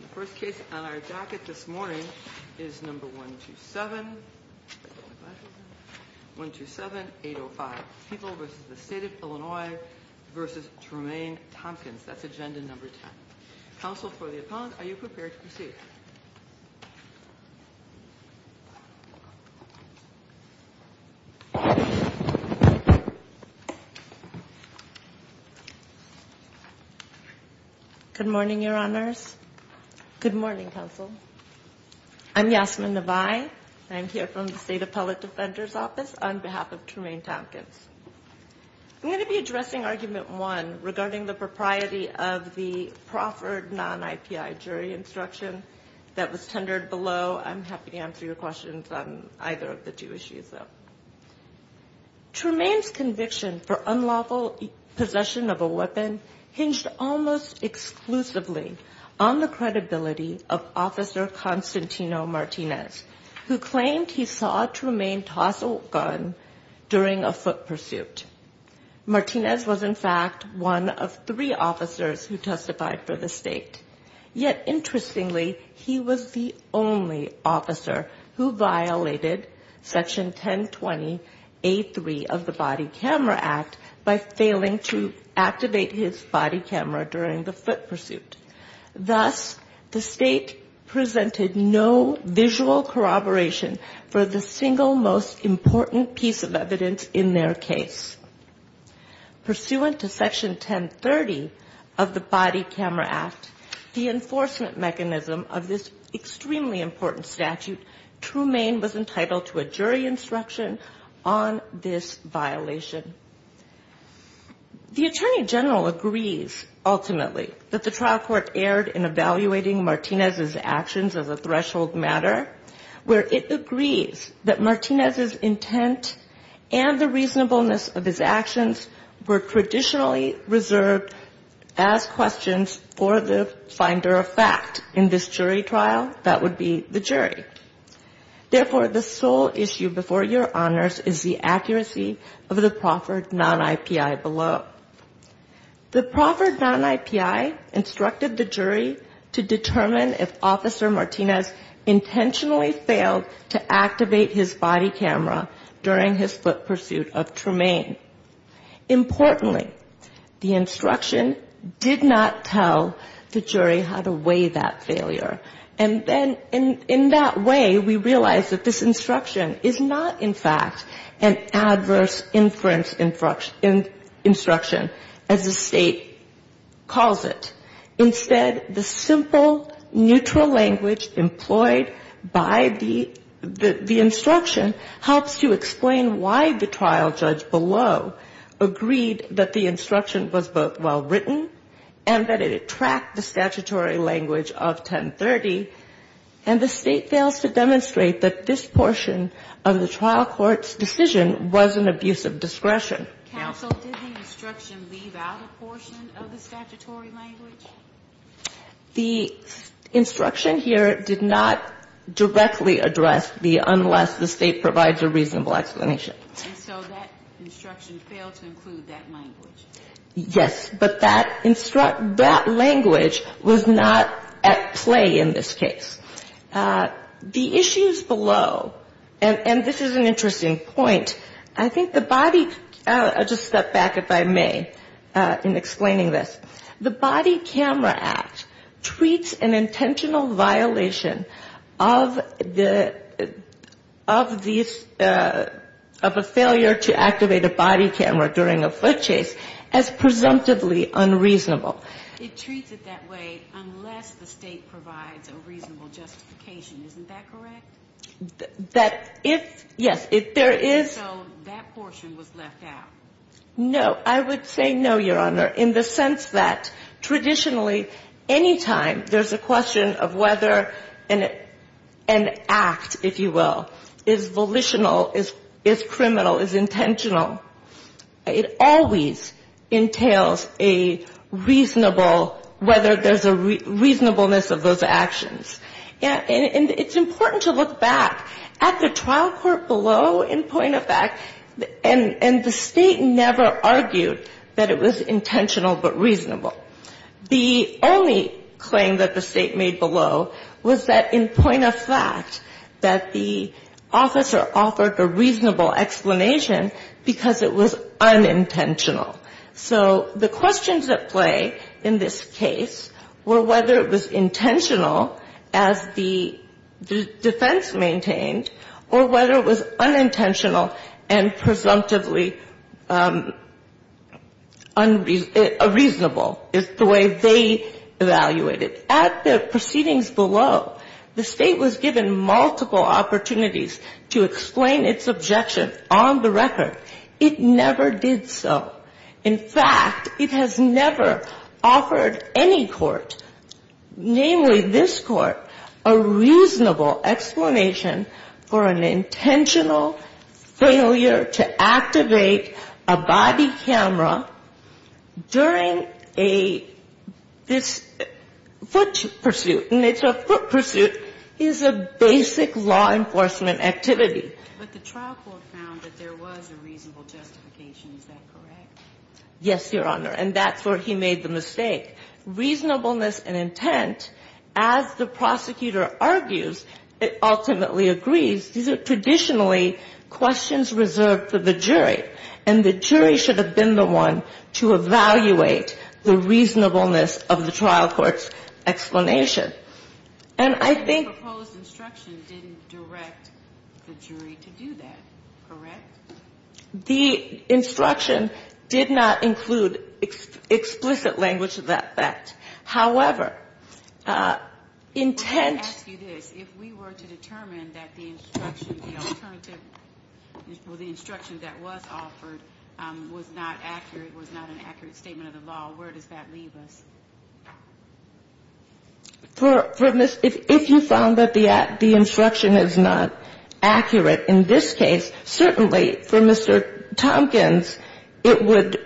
The first case on our jacket this morning is number 127-805, People v. the State of Illinois v. Tremaine Tompkins. That's agenda number 10. Counsel for the appellant, are you prepared to proceed? Good morning, Your Honors. Good morning, Counsel. I'm Yasmin Navai. I'm here from the State Appellate Defender's Office on behalf of Tremaine Tompkins. I'm going to be addressing Argument 1 regarding the propriety of the proffered non-IPI jury instruction that was tendered below. I'm happy to answer your questions on either of the two issues though. Tremaine's conviction for unlawful possession of a weapon hinged almost exclusively on the credibility of Officer Constantino Martinez, who claimed he saw Tremaine toss a gun during a foot pursuit. Martinez was, in fact, one of three officers who testified for the State. Yet, interestingly, he was the only officer who violated Section 1020A3 of the Body Camera Act by failing to activate his body camera during the foot pursuit. Thus, the State presented no visual corroboration for the single most important piece of evidence in their case. Pursuant to Section 1030 of the Body Camera Act, the enforcement mechanism of this extremely important statute, Tremaine was entitled to a jury instruction on this violation. The Attorney General agrees, ultimately, that the trial court erred in evaluating Martinez's actions as a threshold matter, where it agrees that Martinez's intent and the reasonableness of his actions were traditionally reserved as questions for the finder of fact. In this jury trial, that would be the jury. Therefore, the sole issue before your honors is the accuracy of the Crawford Non-IPI below. The Crawford Non-IPI instructed the jury to determine if Officer Martinez intentionally failed to activate his body camera during his foot pursuit of Tremaine. Importantly, the instruction did not tell the jury how to weigh that failure. And then, in that way, we realize that this instruction is not, in fact, an adverse inference instruction, as the State calls it. Instead, the simple, neutral language employed by the instruction helps to explain why the trial judge below agreed that the instruction was both well-written and that it tracked the statutory language of 1030, and the State fails to demonstrate that this portion of the trial court's decision was an abuse of discretion. Sotomayor, did the instruction leave out a portion of the statutory language? The instruction here did not directly address the unless the State provides a reasonable explanation. And so that instruction failed to include that language. Yes, but that language was not at play in this case. The issues below, and this is an interesting point, I think the body, I'll just step back if I may in explaining this. It treats it that way unless the State provides a reasonable justification. Isn't that correct? That if, yes, if there is. And so that portion was left out. No, I would say no, Your Honor, in the sense that the body camera act is an intentional violation of the, of a failure to activate a body camera during a foot chase. And that traditionally, any time there's a question of whether an act, if you will, is volitional, is criminal, is intentional, it always entails a reasonable whether there's a reasonableness of those actions. And it's important to look back. At the trial court below, in point of fact, and the State never argued that it was intentional but reasonable. The only claim that the State made below was that in point of fact that the officer offered a reasonable explanation because it was unintentional. So the questions at play in this case were whether it was intentional as the defense maintained or whether it was unintentional and presumptively unreasonable is the way they evaluated. At the proceedings below, the State was given multiple opportunities to explain its objection on the record. It never did so. In fact, it has never offered any court, namely this court, a reasonable explanation for an intentional failure to activate a body camera during a, this foot pursuit. And it's a foot pursuit is a basic law enforcement activity. But the trial court found that there was a reasonable justification. Is that correct? Yes, Your Honor. And that's where he made the mistake. Reasonableness and intent, as the prosecutor argues, it ultimately agrees. These are traditionally questions reserved for the jury. And the jury should have been the one to evaluate the reasonableness of the trial court's explanation. And I think the proposed instruction didn't direct the jury to do that, correct? The instruction did not include explicit language of that fact. However, intent. Let me ask you this. If we were to determine that the instruction, the alternative, the instruction that was offered was not accurate, was not an accurate statement of the law, where does that leave us? If you found that the instruction is not accurate in this case, certainly for Mr. Tompkins, it would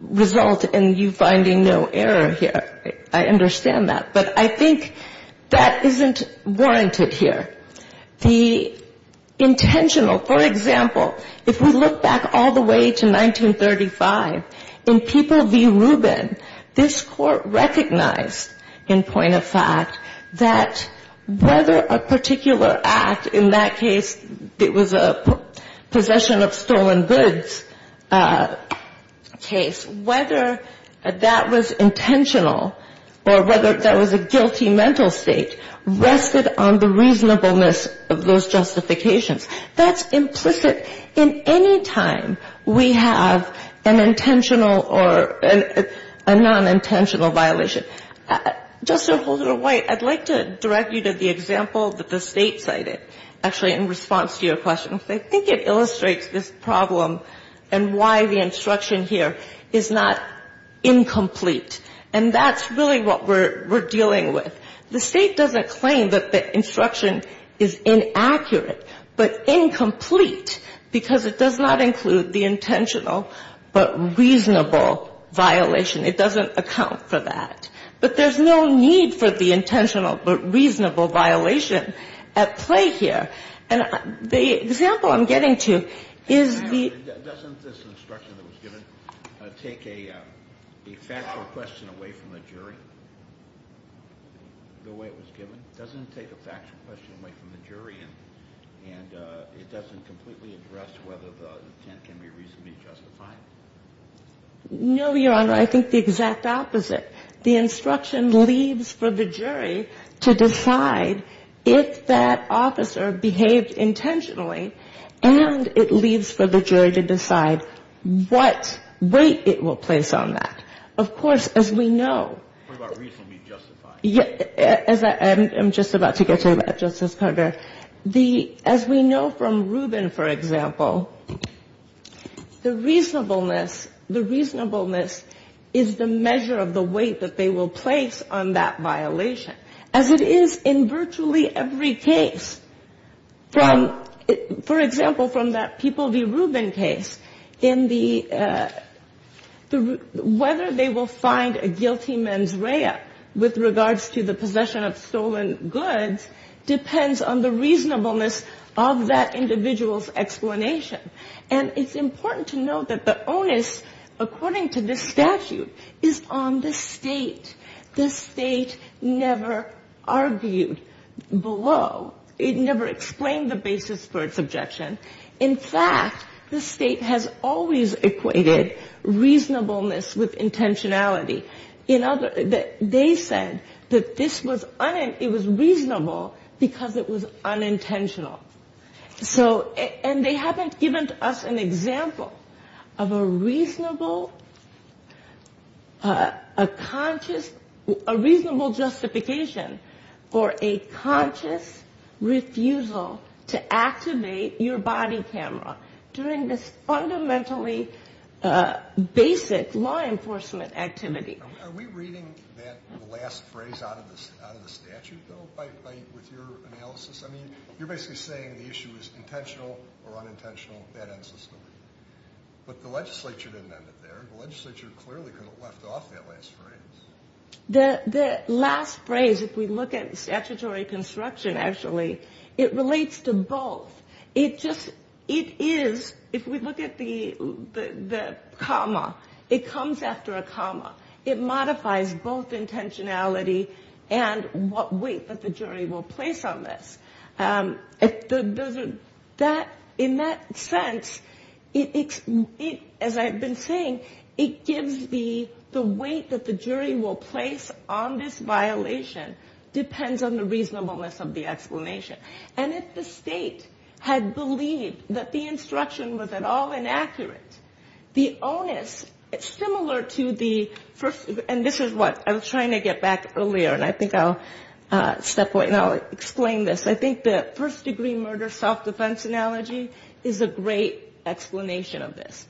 result in you finding no error here. I understand that. But I think that isn't warranted here. The intentional, for example, if we look back all the way to 1935, in People v. Rubin, this court recognized, in point of fact, that whether a particular act, in that case, it was a possession of stolen goods case, whether that was intentional or whether that was a guilty mental state rested on the reasonableness of those justifications. That's implicit in any time we have an intentional or a nonintentional violation. Just to hold it a white, I'd like to direct you to the example that the State cited, actually in response to your question. I think it illustrates this problem and why the instruction here is not incomplete. And that's really what we're dealing with. The State doesn't claim that the instruction is inaccurate but incomplete because it does not include the intentional but reasonable violation. It doesn't account for that. But there's no need for the intentional but reasonable violation at play here. And the example I'm getting to is the ---- Kennedy, doesn't this instruction that was given take a factual question away from the jury, the way it was given? Doesn't it take a factual question away from the jury and it doesn't completely address whether the intent can be reasonably justified? No, Your Honor. I think the exact opposite. The instruction leaves for the jury to decide if that officer behaved intentionally and it leaves for the jury to decide what weight it will place on that. Of course, as we know ---- What about reasonably justified? I'm just about to get to that, Justice Carter. As we know from Rubin, for example, the reasonableness is the measure of the weight that they will place on that violation, as it is in virtually every case. For example, from that People v. Rubin case, whether they will find a guilty mens rea with regards to the possession of stolen goods depends on the reasonableness of that individual's explanation. And it's important to note that the onus, according to this statute, is on the State. The State never argued below. It never explained the basis for its objection. In fact, the State has always equated reasonableness with intentionality. They said that this was reasonable because it was unintentional. And they haven't given us an example of a reasonable justification for a conscious refusal to activate your body camera during this fundamentally basic law enforcement activity. Are we reading that last phrase out of the statute, though, with your analysis? I mean, you're basically saying the issue is intentional or unintentional, that ends the story. But the legislature didn't end it there. The legislature clearly left off that last phrase. The last phrase, if we look at statutory construction, actually, it relates to both. It is, if we look at the comma, it comes after a comma. It modifies both intentionality and what weight that the jury will place on this. In that sense, as I've been saying, it gives the weight that the jury will place on this violation depends on the reasonableness of the explanation. And if the State had believed that the instruction was at all inaccurate, the onus, similar to the first, and this is what I was trying to get back earlier, and I think I'll step away and I'll explain this. I think the first-degree murder self-defense analogy is a great explanation of this.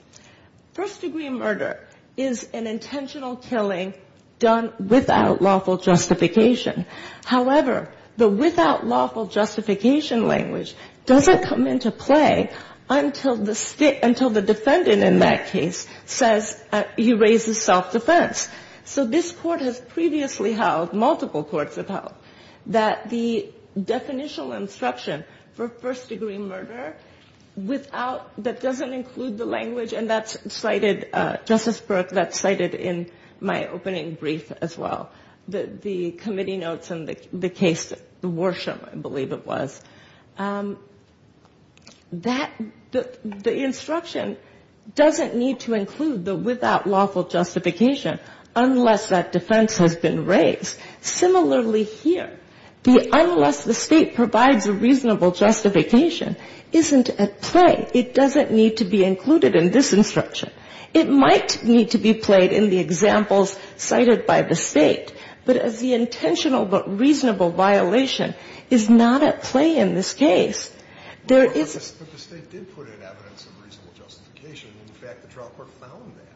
First-degree murder is an intentional killing done without lawful justification. However, the without lawful justification language doesn't come into play until the defendant in that case says he raises self-defense. So this Court has previously held, multiple courts have held, that the definitional instruction for first-degree murder without, that doesn't include the language, and that's cited, Justice Burke, that's cited in my opening brief as well. The committee notes in the case, the Worsham, I believe it was. That, the instruction doesn't need to include the without lawful justification unless that defense has been raised. Similarly here, the unless the State provides a reasonable justification isn't at play. It doesn't need to be included in this instruction. It might need to be played in the examples cited by the State, but as the intentional but reasonable violation is not at play in this case. There is. But the State did put in evidence of reasonable justification. In fact, the trial court found that.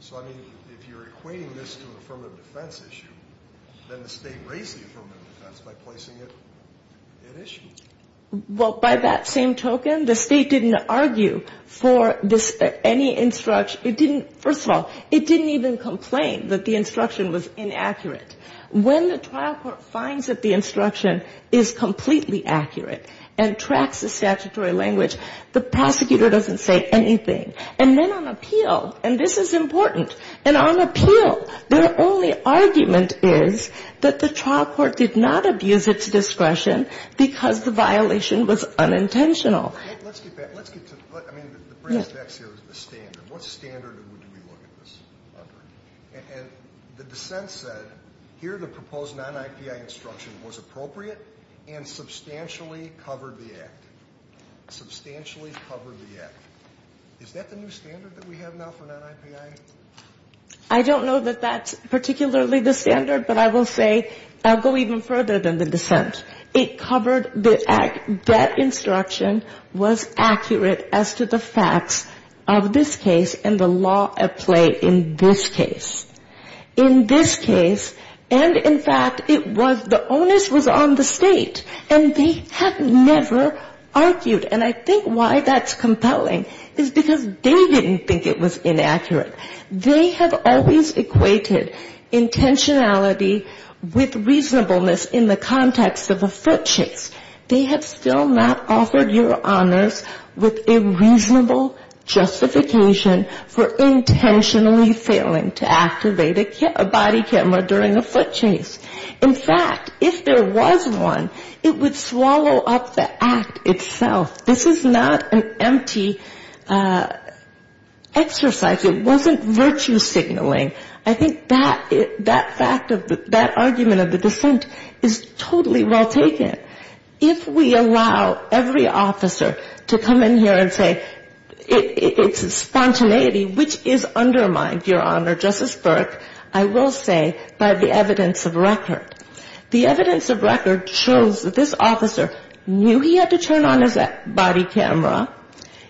So, I mean, if you're equating this to an affirmative defense issue, then the State raised the affirmative defense by placing it at issue. Well, by that same token, the State didn't argue for any instruction. It didn't, first of all, it didn't even complain that the instruction was inaccurate. When the trial court finds that the instruction is completely accurate and tracks the statutory language, the prosecutor doesn't say anything. And then on appeal, and this is important, and on appeal, their only argument is that the trial court did not abuse its discretion because the violation was unintentional. Let's get back. Let's get to, I mean, the phrase is the standard. What standard do we look at this under? And the dissent said here the proposed non-IPI instruction was appropriate and substantially covered the act. Substantially covered the act. Is that the new standard that we have now for non-IPI? I don't know that that's particularly the standard, but I will say I'll go even further than the dissent. It covered the act, that instruction was accurate as to the facts of this case and the law at play in this case. In this case, and in fact, it was the onus was on the State, and they have never argued. And I think why that's compelling is because they didn't think it was inaccurate. They have always equated intentionality with reasonableness in the context of a foot chase. They have still not offered your honors with a reasonable justification for intentionally failing to activate a body camera during a foot chase. In fact, if there was one, it would swallow up the act itself. This is not an empty exercise. It wasn't virtue signaling. I think that fact of that argument of the dissent is totally well taken. If we allow every officer to come in here and say it's spontaneity, which is undermined, Your Honor, Justice Burke, I will say by the evidence of record. The evidence of record shows that this officer knew he had to turn on his body camera.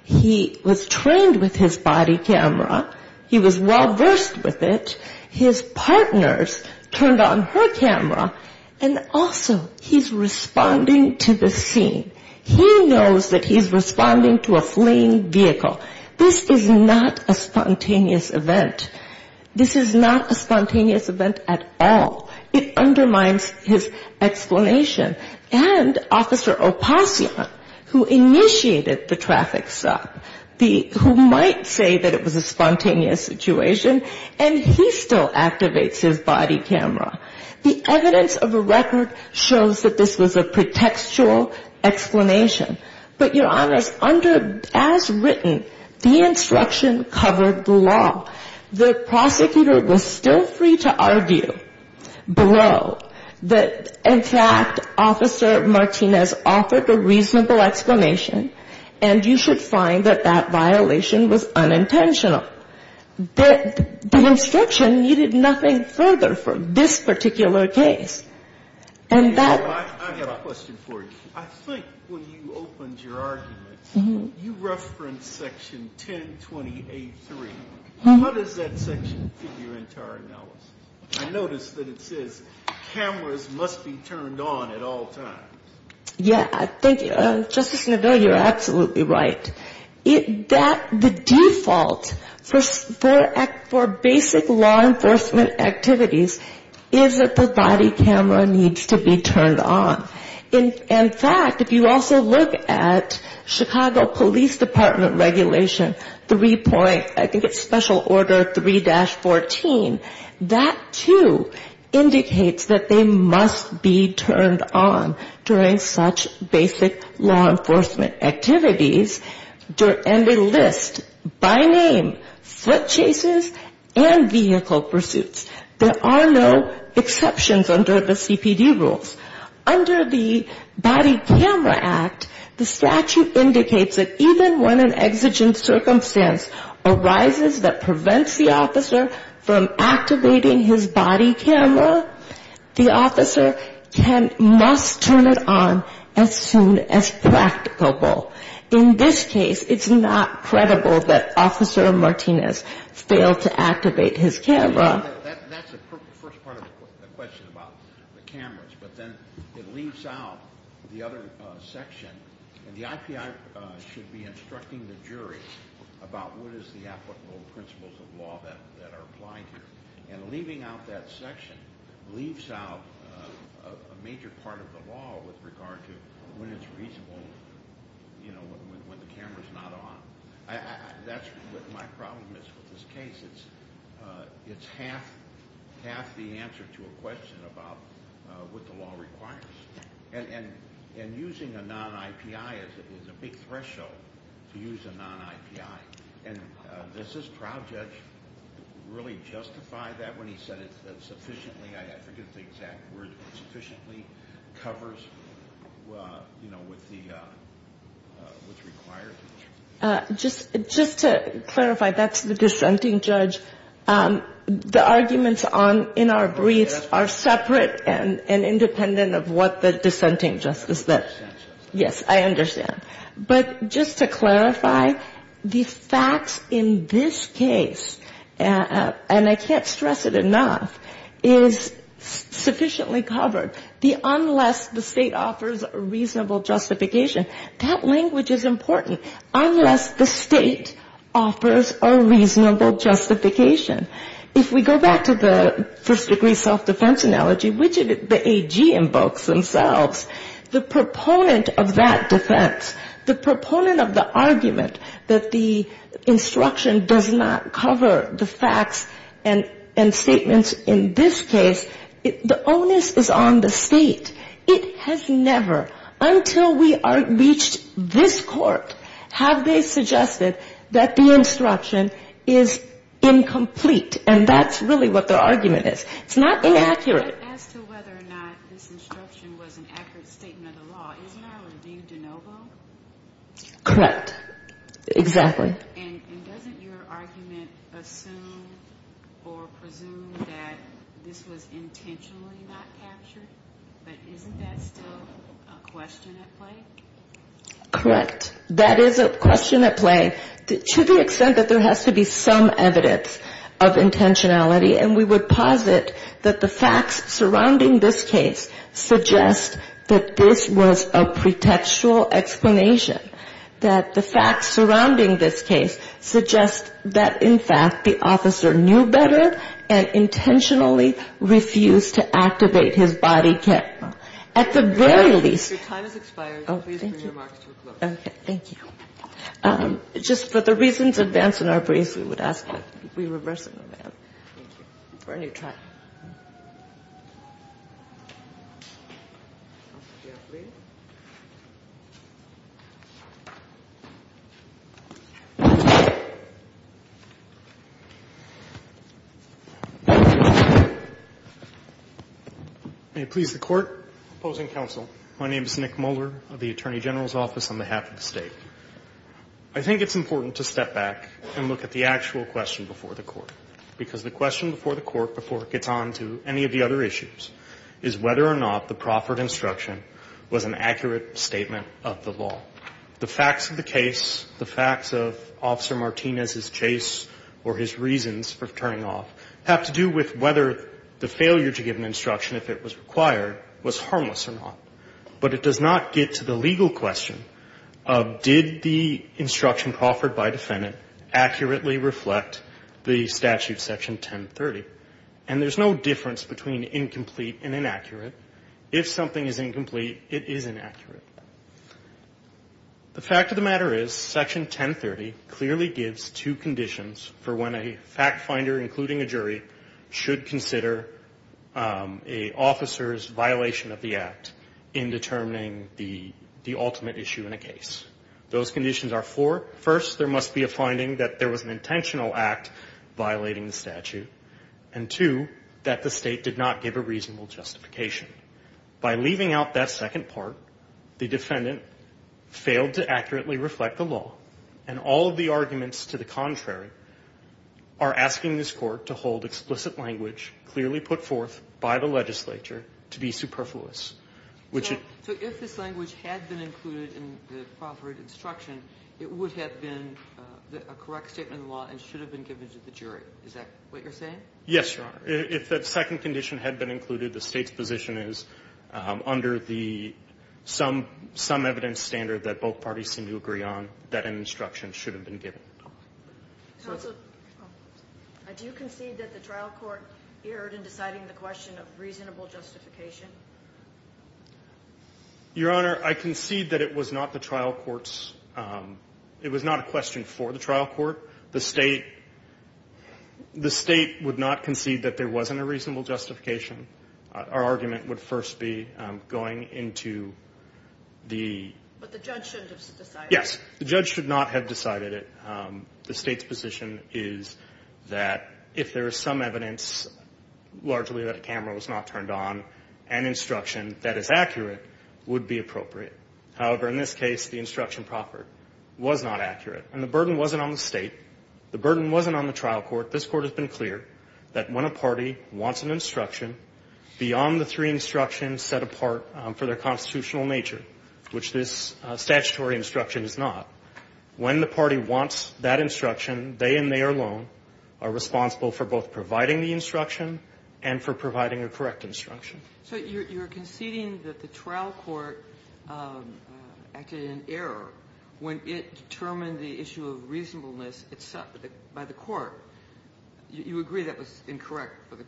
He was trained with his body camera. He was well versed with it. His partners turned on her camera. And also he's responding to the scene. He knows that he's responding to a fleeing vehicle. This is not a spontaneous event. This is not a spontaneous event at all. It undermines his explanation. And Officer Opassian, who initiated the traffic stop, who might say that it was a spontaneous situation, and he still activates his body camera. The evidence of a record shows that this was a pretextual explanation. But your honors, under as written, the instruction covered the law. The prosecutor was still free to argue below that, in fact, Officer Martinez offered a reasonable explanation. And you should find that that violation was unintentional. The instruction needed nothing further for this particular case. I have a question for you. I think when you opened your argument, you referenced section 1028-3. How does that section fit your entire analysis? I noticed that it says cameras must be turned on at all times. Yeah. Thank you. Justice Neville, you're absolutely right. The default for basic law enforcement activities is that the body camera needs to be turned on. In fact, if you also look at Chicago Police Department regulation 3. I think it's special order 3-14. That, too, indicates that they must be turned on during such basic law enforcement activities. And they list, by name, foot chases and vehicle pursuits. There are no exceptions under the CPD rules. Under the Body Camera Act, the statute indicates that even when an exigent circumstance arises that prevents the officer from activating his body camera, the officer must turn it on as soon as practicable. In this case, it's not credible that Officer Martinez failed to activate his camera. That's the first part of the question about the cameras. But then it leaves out the other section. The IPI should be instructing the jury about what is the applicable principles of law that are applied here. And leaving out that section leaves out a major part of the law with regard to when it's reasonable when the camera is not on. That's what my problem is with this case. It's half the answer to a question about what the law requires. And using a non-IPI is a big threshold to use a non-IPI. And does this trial judge really justify that when he said it sufficiently, I forget the exact word, sufficiently covers, you know, what's required? Just to clarify, that's the dissenting judge. The arguments in our briefs are separate and independent of what the dissenting judge says. Yes, I understand. But just to clarify, the facts in this case, and I can't stress it enough, is sufficiently covered. The unless the state offers a reasonable justification, that language is important. Unless the state offers a reasonable justification. If we go back to the first degree self-defense analogy, which the AG invokes themselves, the proponent of that defense, the proponent of the argument that the instruction does not cover the facts and statements in this case, the onus is on the state. It has never, until we reached this court, have they suggested that the instruction is incompatible. It's incomplete. And that's really what the argument is. It's not inaccurate. Correct. Exactly. And doesn't your argument assume or presume that this was intentionally not captured? But isn't that still a question at play? Correct. That is a question at play. To the extent that there has to be some evidence of intentionality. And we would posit that the facts surrounding this case suggest that this was a pretextual explanation. That the facts surrounding this case suggest that, in fact, the officer knew better and intentionally refused to activate his body kit. At the very least. Your time has expired. Please bring your remarks to a close. Okay. Thank you. Just for the reasons advanced in our briefs, we would ask that we reverse it for a new trial. May it please the Court. Opposing counsel. My name is Nick Moeller of the Attorney General's Office on behalf of the State. I think it's important to step back and look at the actual question before the Court. Because the question before the Court, before it gets on to any of the other issues, is whether or not the proffered instruction was an accurate statement of the law. The facts of the case, the facts of Officer Martinez's chase or his reasons for turning off, have to do with whether the failure to give an instruction, if it was required, was harmless or not. But it does not get to the legal question of did the instruction proffered by defendant accurately reflect the statute, Section 1030. And there's no difference between incomplete and inaccurate. If something is incomplete, it is inaccurate. The fact of the matter is, Section 1030 clearly gives two conditions for when a fact finder, including a jury, should consider an officer's violation of the Act in determining the ultimate issue in a case. Those conditions are four. First, there must be a finding that there was an intentional Act violating the statute. And two, that the State did not give a reasonable justification. By leaving out that second part, the defendant failed to accurately reflect the law. And all of the arguments to the contrary are asking this Court to hold explicit language clearly put forth by the legislature to be superfluous. Ginsburg. So if this language had been included in the proffered instruction, it would have been a correct statement of the law and should have been given to the jury. Is that what you're saying? Yes, Your Honor. If that second condition had been included, the State's position is, under the some evidence standard that both parties seem to agree on, that an instruction should have been given. Counsel, do you concede that the trial court erred in deciding the question of reasonable justification? Your Honor, I concede that it was not the trial court's, it was not a question for the trial court. The State, the State would not have given a reasonable justification to the question of reasonable justification. I would not concede that there wasn't a reasonable justification. Our argument would first be going into the... But the judge shouldn't have decided it. Yes. The judge should not have decided it. The State's position is that if there is some evidence, largely that a camera was not turned on, an instruction that is accurate would be appropriate. However, in this case, the instruction proffered was not accurate. And the burden wasn't on the State. The burden wasn't on the trial court. This Court has been clear. That when a party wants an instruction, beyond the three instructions set apart for their constitutional nature, which this statutory instruction is not, when the party wants that instruction, they and they alone are responsible for both providing the instruction and for providing a correct instruction. So you're conceding that the trial court acted in error when it determined the issue of reasonableness by the court. You agree that was not the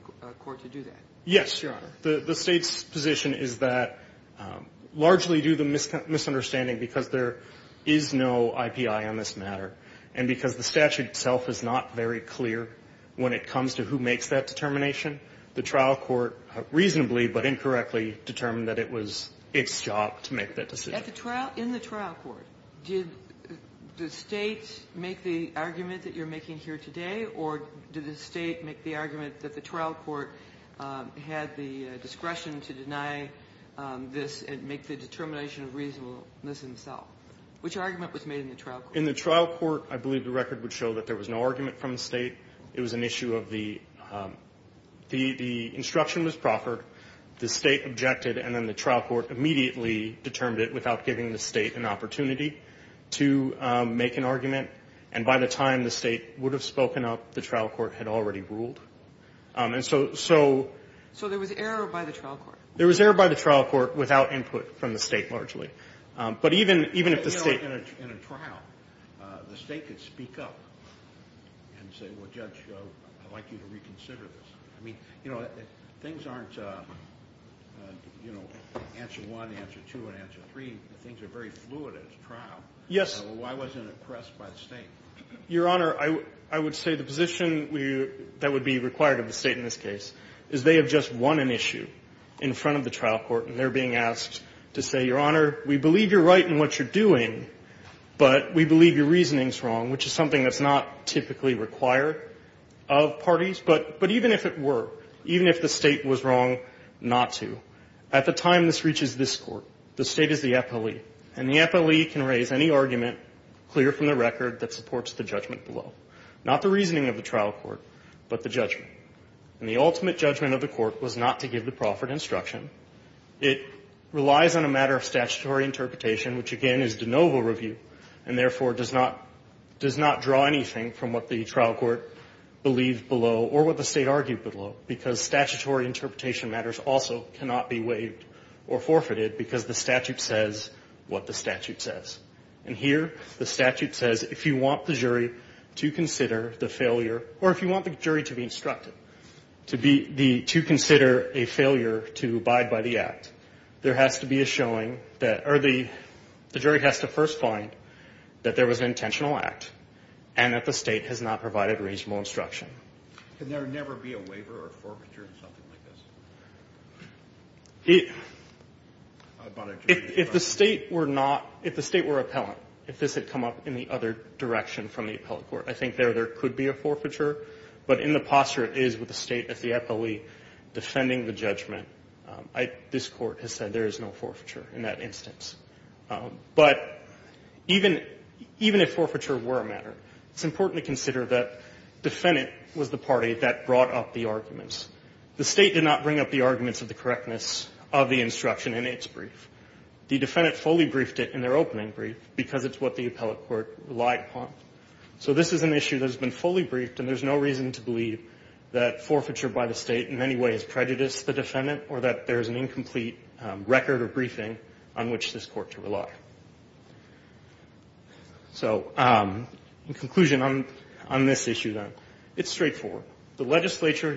case? Yes, Your Honor. The State's position is that, largely due to misunderstanding, because there is no IPI on this matter, and because the statute itself is not very clear when it comes to who makes that determination, the trial court reasonably, but incorrectly, determined that it was its job to make that decision. In the trial court, did the State make the argument that you're making here today, or did the State make the argument that it was its job to make that decision? Did the State make the argument that the trial court had the discretion to deny this and make the determination of reasonableness itself? Which argument was made in the trial court? In the trial court, I believe the record would show that there was no argument from the State. It was an issue of the instruction was proffered, the State objected, and then the trial court immediately determined it without giving the State an opportunity to make an argument. And by the time the State would have spoken up, the trial court had already ruled. So there was error by the trial court? There was error by the trial court without input from the State, largely. In a trial, the State could speak up and say, well, Judge, I'd like you to reconsider this. I mean, things aren't answer one, answer two, and answer three. I mean, things are very fluid at a trial. So why wasn't it pressed by the State? Your Honor, I would say the position that would be required of the State in this case is they have just won an issue in front of the trial court, and they're being asked to say, Your Honor, we believe you're right in what you're doing, but we believe your reasoning's wrong, which is something that's not typically required of parties. But even if it were, even if the State was wrong not to, at the time this reaches this Court, the State is the epitome. And the judge is the appellee. And the appellee can raise any argument clear from the record that supports the judgment below. Not the reasoning of the trial court, but the judgment. And the ultimate judgment of the court was not to give the proffered instruction. It relies on a matter of statutory interpretation, which, again, is de novo review, and therefore does not draw anything from what the trial court believed below or what the State argued below, because statutory interpretation matters also cannot be waived or forfeited because the statute says what the statute says. And here the statute says if you want the jury to consider the failure, or if you want the jury to be instructed to consider a failure to abide by the statute, you have to consider the failure to abide by the statute. If you want the jury to decide by the act, there has to be a showing that, or the jury has to first find that there was an intentional act and that the State has not provided reasonable instruction. Can there never be a waiver or forfeiture in something like this? If the State were not, if the State were appellant, if this had come up in the other direction from the appellate court, I think there could be a forfeiture. But in the posture it is with the State as the appellee defending the judgment, this Court has said there is no forfeiture in that instance. But even if forfeiture were a matter, it's important to consider that the defendant was the party that brought up the arguments. The State did not bring up the arguments of the correctness of the instruction in its brief. The defendant fully briefed it in their opening brief because it's what the appellate court relied upon. So this is an issue that has been fully briefed, and there's no reason to believe that forfeiture by the State in any way has prejudiced the defendant or that there is an incomplete record or briefing on which this Court to rely. So in conclusion on this issue, then, it's straightforward. The legislature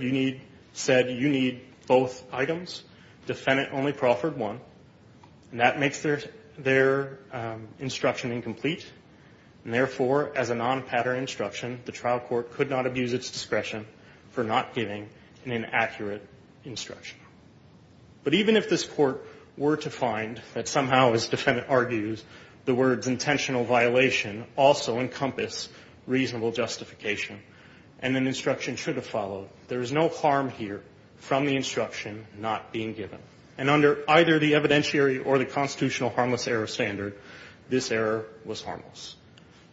said you need both items. Defendant only proffered one. And that makes their instruction incomplete. And therefore, as a non-pattern instruction, the trial court could not abuse its discretion for not giving an inaccurate instruction. But even if this Court were to find that somehow, as the defendant argues, the words intentional violation also encompass reasonable justification and an instruction should have followed, there is no harm here from the instruction not being given. And under either the evidentiary or the constitutional harmless error standard, this error was harmless.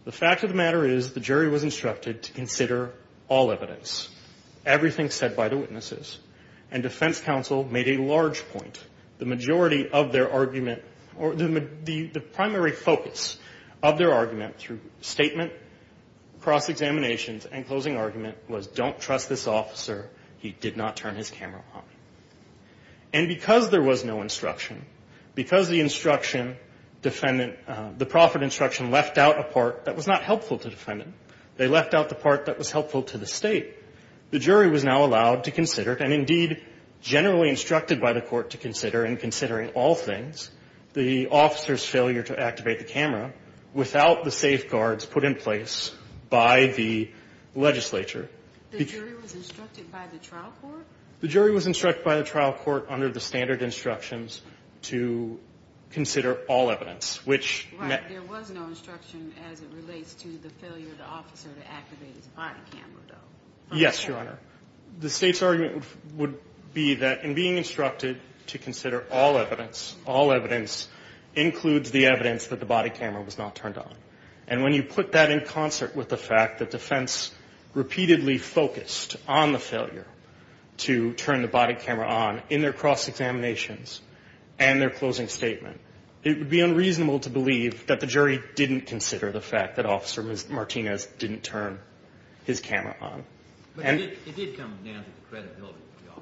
The fact of the matter is the jury was instructed to consider all evidence, everything said by the witnesses. And defense counsel made a large point. The majority of their argument or the primary focus of their argument through statement, cross-examinations, and closing argument was don't trust this officer. He did not turn his camera on. And because there was no instruction, because the instruction defendant the proffered instruction left out a part that was not helpful to the defendant. They left out the part that was helpful to the State. The jury was now allowed to consider, and indeed generally instructed by the court to consider in considering all things, the officer's failure to activate the camera without the safeguards put in place by the legislature. The jury was instructed by the trial court? The jury was instructed by the trial court under the standard instructions to consider all evidence. Right. There was no instruction as it relates to the failure of the officer to activate his body camera, though. Yes, Your Honor. The State's argument would be that in being instructed to consider all evidence, all evidence includes the evidence that the body camera was not turned on. And when you put that in concert with the fact that defense repeatedly focused on the failure to turn the body camera on in their cross-examinations and their closing statement, it would be unreasonable to believe that the jury didn't consider the fact that Officer Martinez didn't turn his camera on. But it did come down to the credibility of the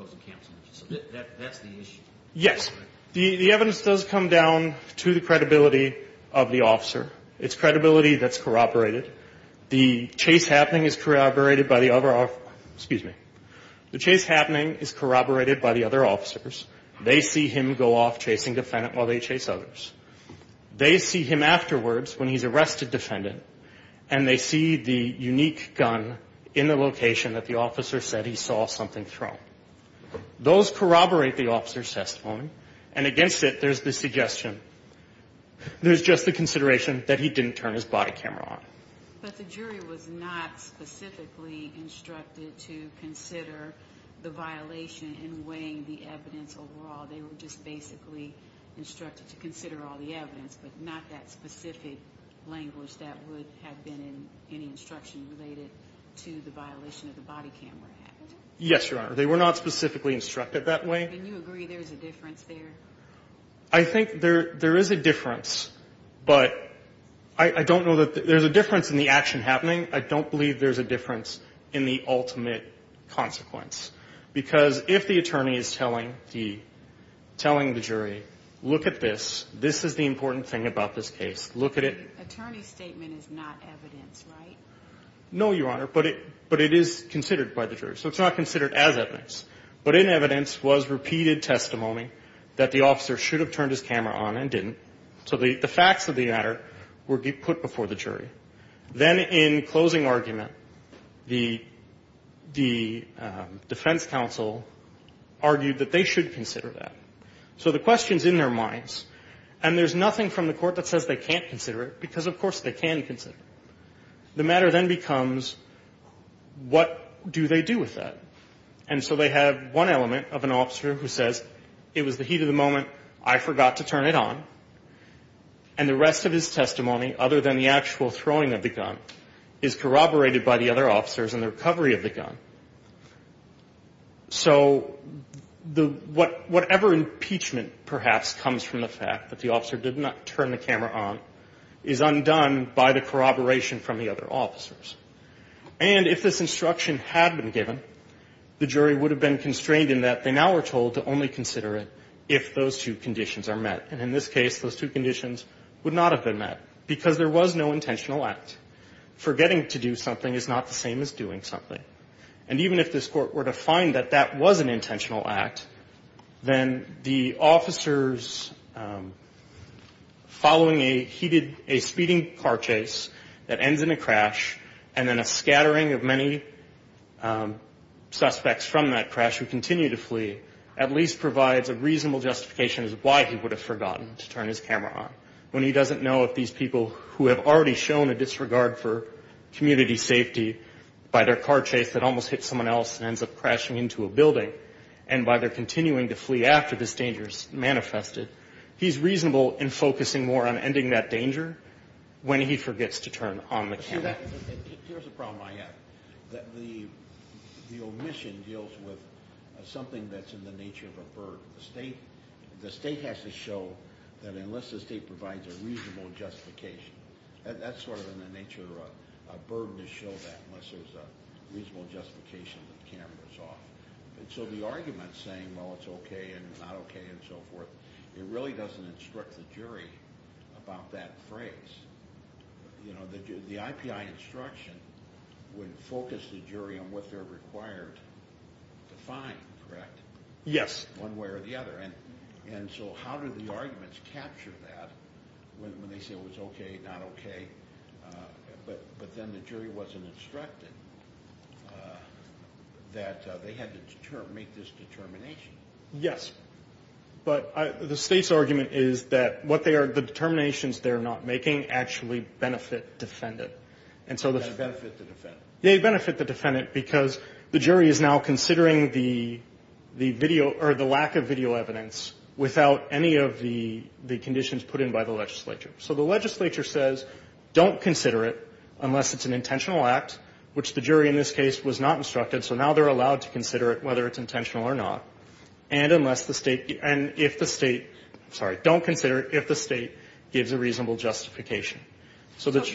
officer. That's the issue. Yes. The evidence does come down to the credibility of the officer. It's credibility that's corroborated. The chase happening is corroborated by the other officers. Excuse me. The chase happening is corroborated by the other officers. They see him go off chasing defendants while they chase others. They see him afterwards when he's arrested defendant, and they see the unique gun in the location that the officer said he saw something thrown. Those corroborate the officer's testimony, and against it there's the suggestion there's just the consideration that he didn't turn his body camera on. But the jury was not specifically instructed to consider the violation in weighing the evidence overall. They were just basically instructed to consider all the evidence, but not that specific language that would have been in any instruction related to the violation of the Body Camera Act. Yes, Your Honor. They were not specifically instructed that way. Can you agree there's a difference there? I think there is a difference, but I don't know that there's a difference in the action happening. I don't believe there's a difference in the ultimate consequence, because if the attorney is telling the jury, look at this, this is the important thing about this case, look at it. The attorney's statement is not evidence, right? No, Your Honor, but it is considered by the jury. So it's not considered as evidence, but in evidence was repeated testimony that the officer should have turned his camera on and didn't. So the facts of the matter were put before the jury. Then in closing argument, the defense counsel argued that they should consider that. So the question's in their minds, and there's nothing from the court that says they can't consider it, because, of course, they can consider it. The matter then becomes what do they do with that? And so they have one element of an officer who says, it was the heat of the moment, I forgot to turn it on. And the rest of his testimony, other than the actual throwing of the gun, is corroborated by the other officers in the recovery of the gun. So whatever impeachment perhaps comes from the fact that the officer did not turn the camera on is undone by the corroboration from the other officers. And if this instruction had been given, the jury would have been constrained in that they now are told to only consider it if those two conditions are met. And in this case, those two conditions would not have been met, because there was no intentional act. Forgetting to do something is not the same as doing something. And even if this court were to find that that was an intentional act, and then a scattering of many suspects from that crash who continue to flee, at least provides a reasonable justification as to why he would have forgotten to turn his camera on. When he doesn't know if these people who have already shown a disregard for community safety by their car chase that almost hits someone else and ends up crashing into a building, and by their continuing to flee after this danger is manifested, he's reasonable in focusing more on ending that danger when he forgets to turn on the camera. Here's a problem I have. The omission deals with something that's in the nature of a burden. The state has to show that unless the state provides a reasonable justification, that's sort of in the nature of a burden to show that, unless there's a reasonable justification that the camera's off. And so the argument saying, well, it's okay and not okay and so forth, it really doesn't instruct the jury about that phrase. The IPI instruction would focus the jury on what they're required to find, correct? Yes. One way or the other. And so how do the arguments capture that when they say it was okay, not okay, but then the jury wasn't instructed that they had to make this determination? Yes. But the state's argument is that what they are, the determinations they're not making actually benefit defendant. They benefit the defendant. They benefit the defendant because the jury is now considering the video or the lack of video evidence without any of the conditions put in by the legislature. So the legislature says don't consider it unless it's an intentional act, which the jury in this case was not instructed, so now they're allowed to consider it whether it's intentional or not. And unless the state, and if the state, sorry, don't consider it if the state gives a reasonable justification. So if,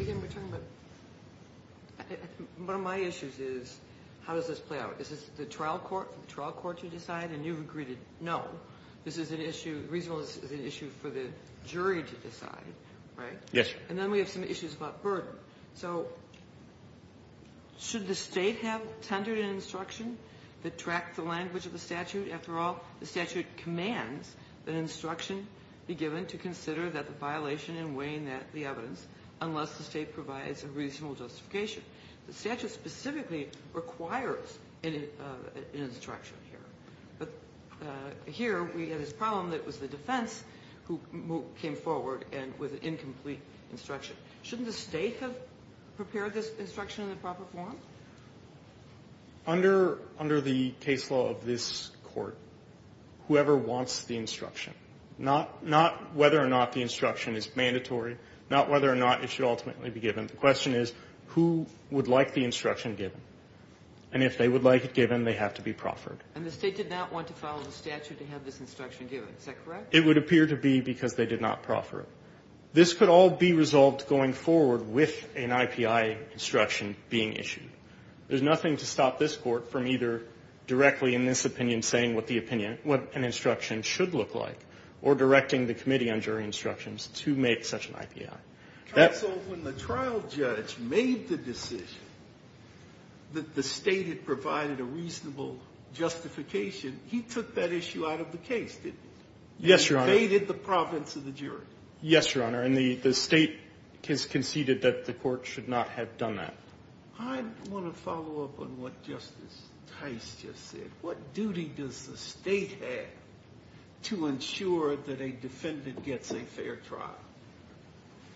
again, we're talking about, one of my issues is how does this play out? Is this the trial court for the trial court to decide? And you've agreed no. This is an issue, reasonableness is an issue for the jury to decide, right? Yes. And then we have some issues about burden. So should the state have tendered an instruction that tracked the language of the statute? After all, the statute commands that instruction be given to consider that the violation in weighing the evidence unless the state provides a reasonable justification. The statute specifically requires an instruction here. But here we have this problem that it was the defense who came forward and with incomplete instruction. Shouldn't the state have prepared this instruction in the proper form? Under the case law of this court, whoever wants the instruction, not whether or not the instruction is mandatory, not whether or not it should ultimately be given. The question is who would like the instruction given? And if they would like it given, they have to be proffered. And the state did not want to follow the statute to have this instruction given. Is that correct? It would appear to be because they did not proffer it. This could all be resolved going forward with an IPI instruction being issued. There's nothing to stop this court from either directly in this opinion saying what the opinion, what an instruction should look like, or directing the Committee on Jury Instructions to make such an IPI. Counsel, when the trial judge made the decision that the state had provided a reasonable justification, he took that issue out of the case, didn't he? Yes, Your Honor. He invaded the province of the jury. Yes, Your Honor, and the state has conceded that the court should not have done that. I want to follow up on what Justice Tice just said. What duty does the state have to ensure that a defendant gets a fair trial?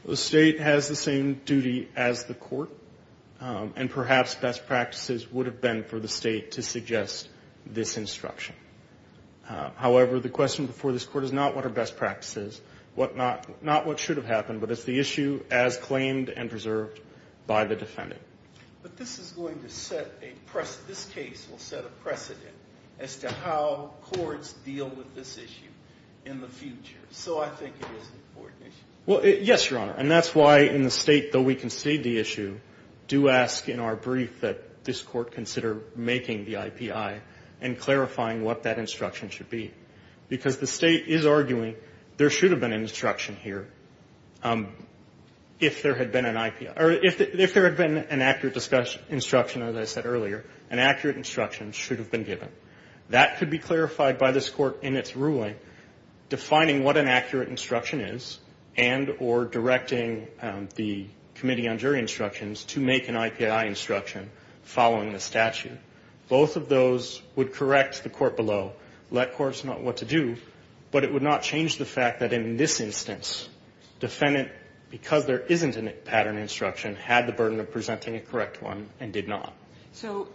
The state has the same duty as the court, and perhaps best practices would have been for the state to suggest this instruction. However, the question before this court is not what are best practices, not what should have happened, but it's the issue as claimed and preserved by the defendant. But this is going to set a precedent. This case will set a precedent as to how courts deal with this issue in the future. So I think it is an important issue. Well, yes, Your Honor, and that's why in the state, though we concede the issue, do ask in our brief that this court consider making the IPI and clarifying what that instruction should be, because the state is arguing there should have been an instruction here. If there had been an IPI or if there had been an accurate instruction, as I said earlier, an accurate instruction should have been given. That could be clarified by this court in its ruling, defining what an accurate instruction is and or directing the Committee on Jury Instructions to make an IPI instruction following the statute. Both of those would correct the court below, let courts know what to do, but it would not change the fact that in this instance, defendant, because there isn't a pattern instruction, had the burden of presenting a correct one and did not. So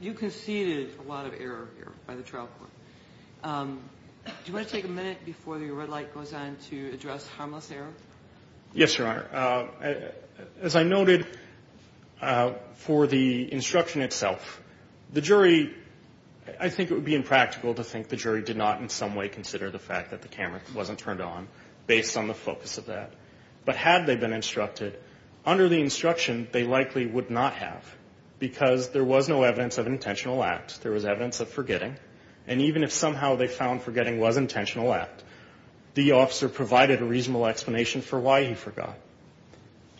you conceded a lot of error here by the trial court. Do you want to take a minute before the red light goes on to address harmless error? Yes, Your Honor. As I noted for the instruction itself, the jury, I think it would be impractical to think the jury did not in some way consider the fact that the camera wasn't turned on based on the focus of that. But had they been instructed, under the instruction, they likely would not have because there was no evidence of intentional act. There was evidence of forgetting. And even if somehow they found forgetting was intentional act, the officer provided a reasonable explanation for why he forgot.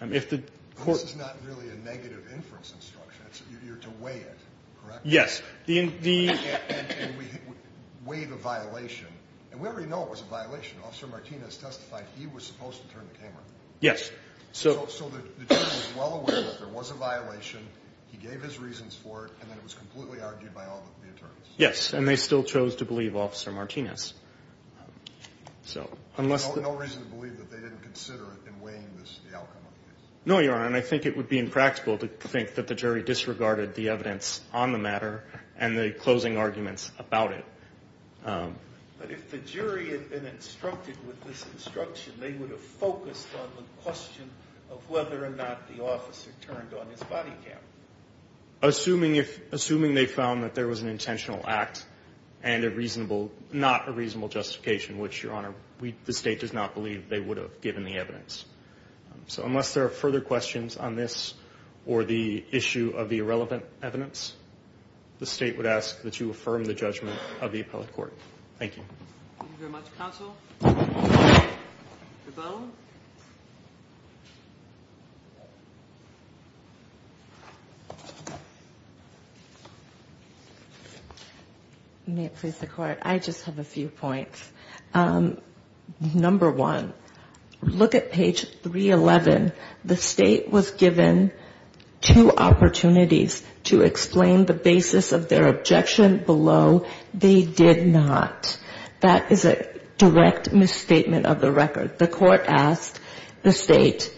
This is not really a negative inference instruction. You're to weigh it, correct? Yes. And we weigh the violation. And we already know it was a violation. Officer Martinez testified he was supposed to turn the camera. Yes. So the jury was well aware that there was a violation. He gave his reasons for it. And then it was completely argued by all the attorneys. Yes. And they still chose to believe Officer Martinez. No reason to believe that they didn't consider it in weighing the outcome of the case. No, Your Honor. And I think it would be impractical to think that the jury disregarded the evidence on the matter and the closing arguments about it. But if the jury had been instructed with this instruction, they would have focused on the question of whether or not the officer turned on his body camera. Assuming they found that there was an intentional act and not a reasonable justification, which, Your Honor, the State does not believe they would have given the evidence. So unless there are further questions on this or the issue of the irrelevant evidence, the State would ask that you affirm the judgment of the appellate court. Thank you. Thank you very much, counsel. The bill. May it please the Court. I just have a few points. Number one, look at page 311. The State was given two opportunities to explain the basis of their objection below. They did not. That is a direct misstatement of the record. The Court asked the State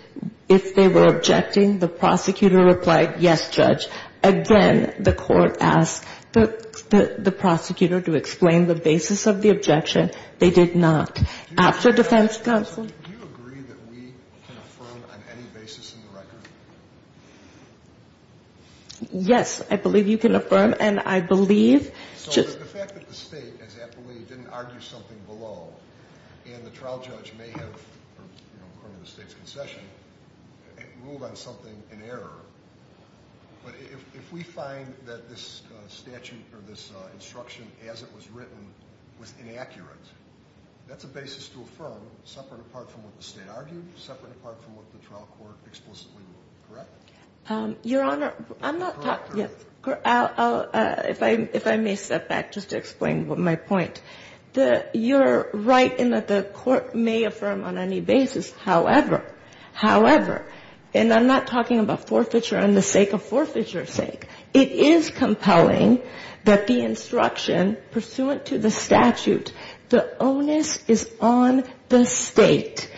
if they were objecting. The prosecutor replied, yes, Judge. Again, the Court asked the prosecutor to explain the basis of the objection. They did not. After defense counsel. Do you agree that we can affirm on any basis in the record? Yes, I believe you can affirm. And I believe. The fact that the State, as appellate, didn't argue something below, and the trial judge may have, according to the State's concession, ruled on something in error, but if we find that this statute or this instruction as it was written was inaccurate, that's a basis to affirm separate apart from what the State argued, separate apart from what the trial court explicitly ruled, correct? Your Honor, I'm not talking. If I may step back just to explain my point. You're right in that the Court may affirm on any basis. However, however, and I'm not talking about forfeiture on the sake of forfeiture's sake. It is compelling that the instruction pursuant to the statute, the onus is on the State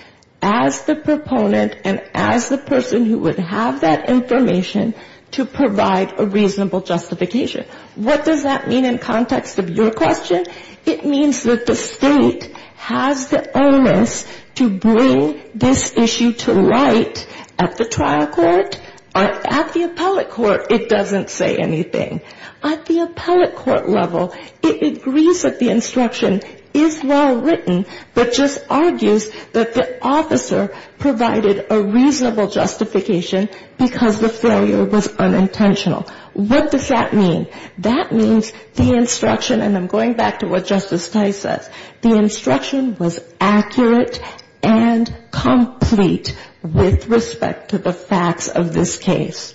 as the proponent and as the person who would have that information to provide a reasonable justification. What does that mean in context of your question? It means that the State has the onus to bring this issue to light at the trial court or at the appellate court it doesn't say anything. At the appellate court level, it agrees that the instruction is well written, but just argues that the officer provided a reasonable justification because the failure was unintentional. What does that mean? That means the instruction, and I'm going back to what Justice Kight says, the instruction was accurate and complete with respect to the facts of this case.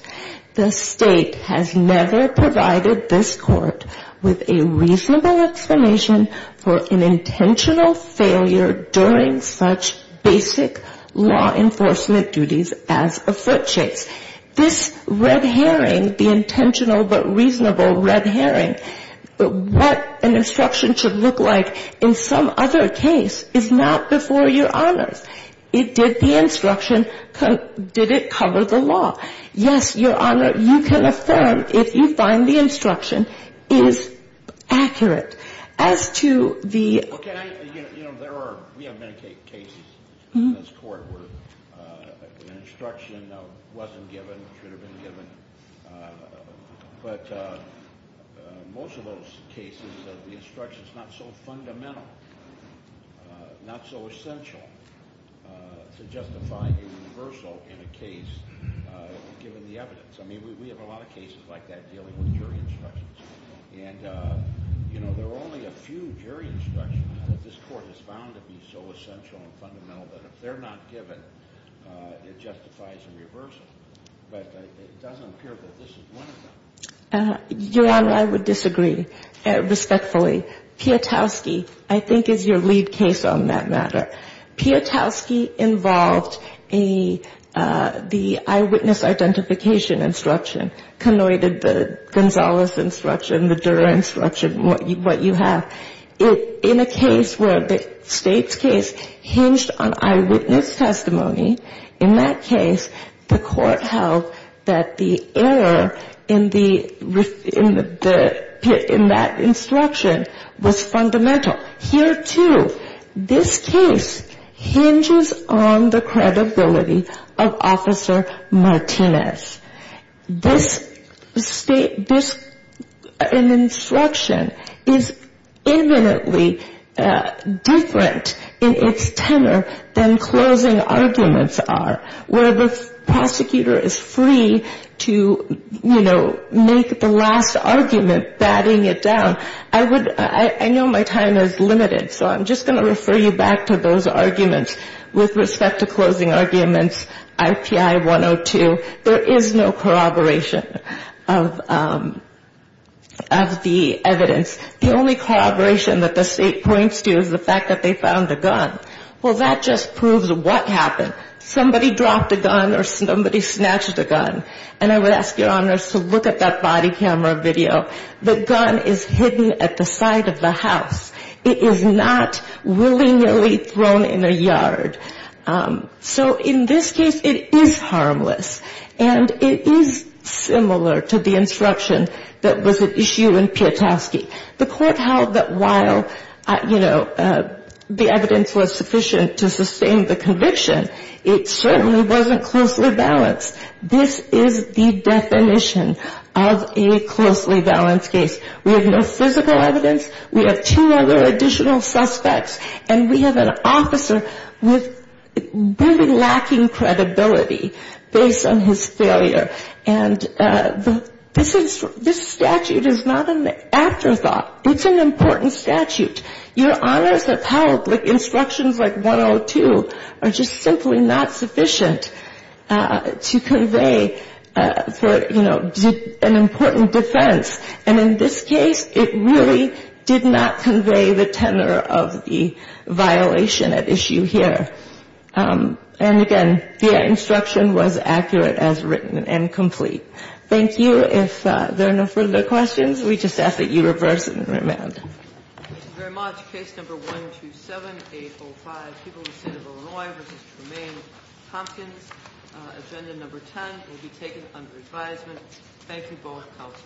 The State has never provided this Court with a reasonable explanation for an intentional failure during such basic law enforcement duties as a foot chase. This red herring, the intentional but reasonable red herring, what an instruction should look like in some other case is not before your honors. It did the instruction. Did it cover the law? Yes, Your Honor, you can affirm if you find the instruction is accurate. As to the ---- Well, can I, you know, there are, we have many cases in this Court where an instruction wasn't given, should have been given, but most of those cases the instruction is not so fundamental, not so essential. It's not enough to justify a reversal in a case given the evidence. I mean, we have a lot of cases like that dealing with jury instructions. And, you know, there are only a few jury instructions that this Court has found to be so essential and fundamental that if they're not given, it justifies a reversal. But it doesn't appear that this is one of them. Your Honor, I would disagree respectfully. Piotrowski, I think, is your lead case on that matter. Piotrowski involved the eyewitness identification instruction, connoited the Gonzales instruction, the Durer instruction, what you have. In a case where the State's case hinged on eyewitness testimony, in that case, the Court held that the error in that instruction was fundamental. Here, too, this case hinges on the credibility of Officer Martinez. This instruction is eminently different in its tenor than closing arguments are, where the prosecutor is free to, you know, make the last argument batting it down. I know my time is limited, so I'm just going to refer you back to those arguments. With respect to closing arguments, IPI 102, there is no corroboration of the evidence. The only corroboration that the State points to is the fact that they found a gun. Well, that just proves what happened. Somebody dropped a gun or somebody snatched a gun, and I would ask Your Honors to look at that body camera video. The gun is hidden at the side of the house. It is not willy-nilly thrown in a yard. So in this case, it is harmless, and it is similar to the instruction that was at issue in Piotrowski. The Court held that while, you know, the evidence was sufficient to sustain the conviction, it certainly wasn't closely balanced. This is the definition of a closely balanced case. We have no physical evidence, we have two other additional suspects, and we have an officer with very lacking credibility based on his failure. And this statute is not an afterthought. It's an important statute. Your Honors have held instructions like 102 are just simply not sufficient to convey for, you know, an important defense. And in this case, it really did not convey the tenor of the violation at issue here. And, again, the instruction was accurate as written and complete. Thank you. If there are no further questions, we just ask that you reverse and remand. Thank you very much. Case number 127805, People v. City of Illinois v. Tremaine-Thompkins. Agenda number 10 will be taken under advisement. Thank you both.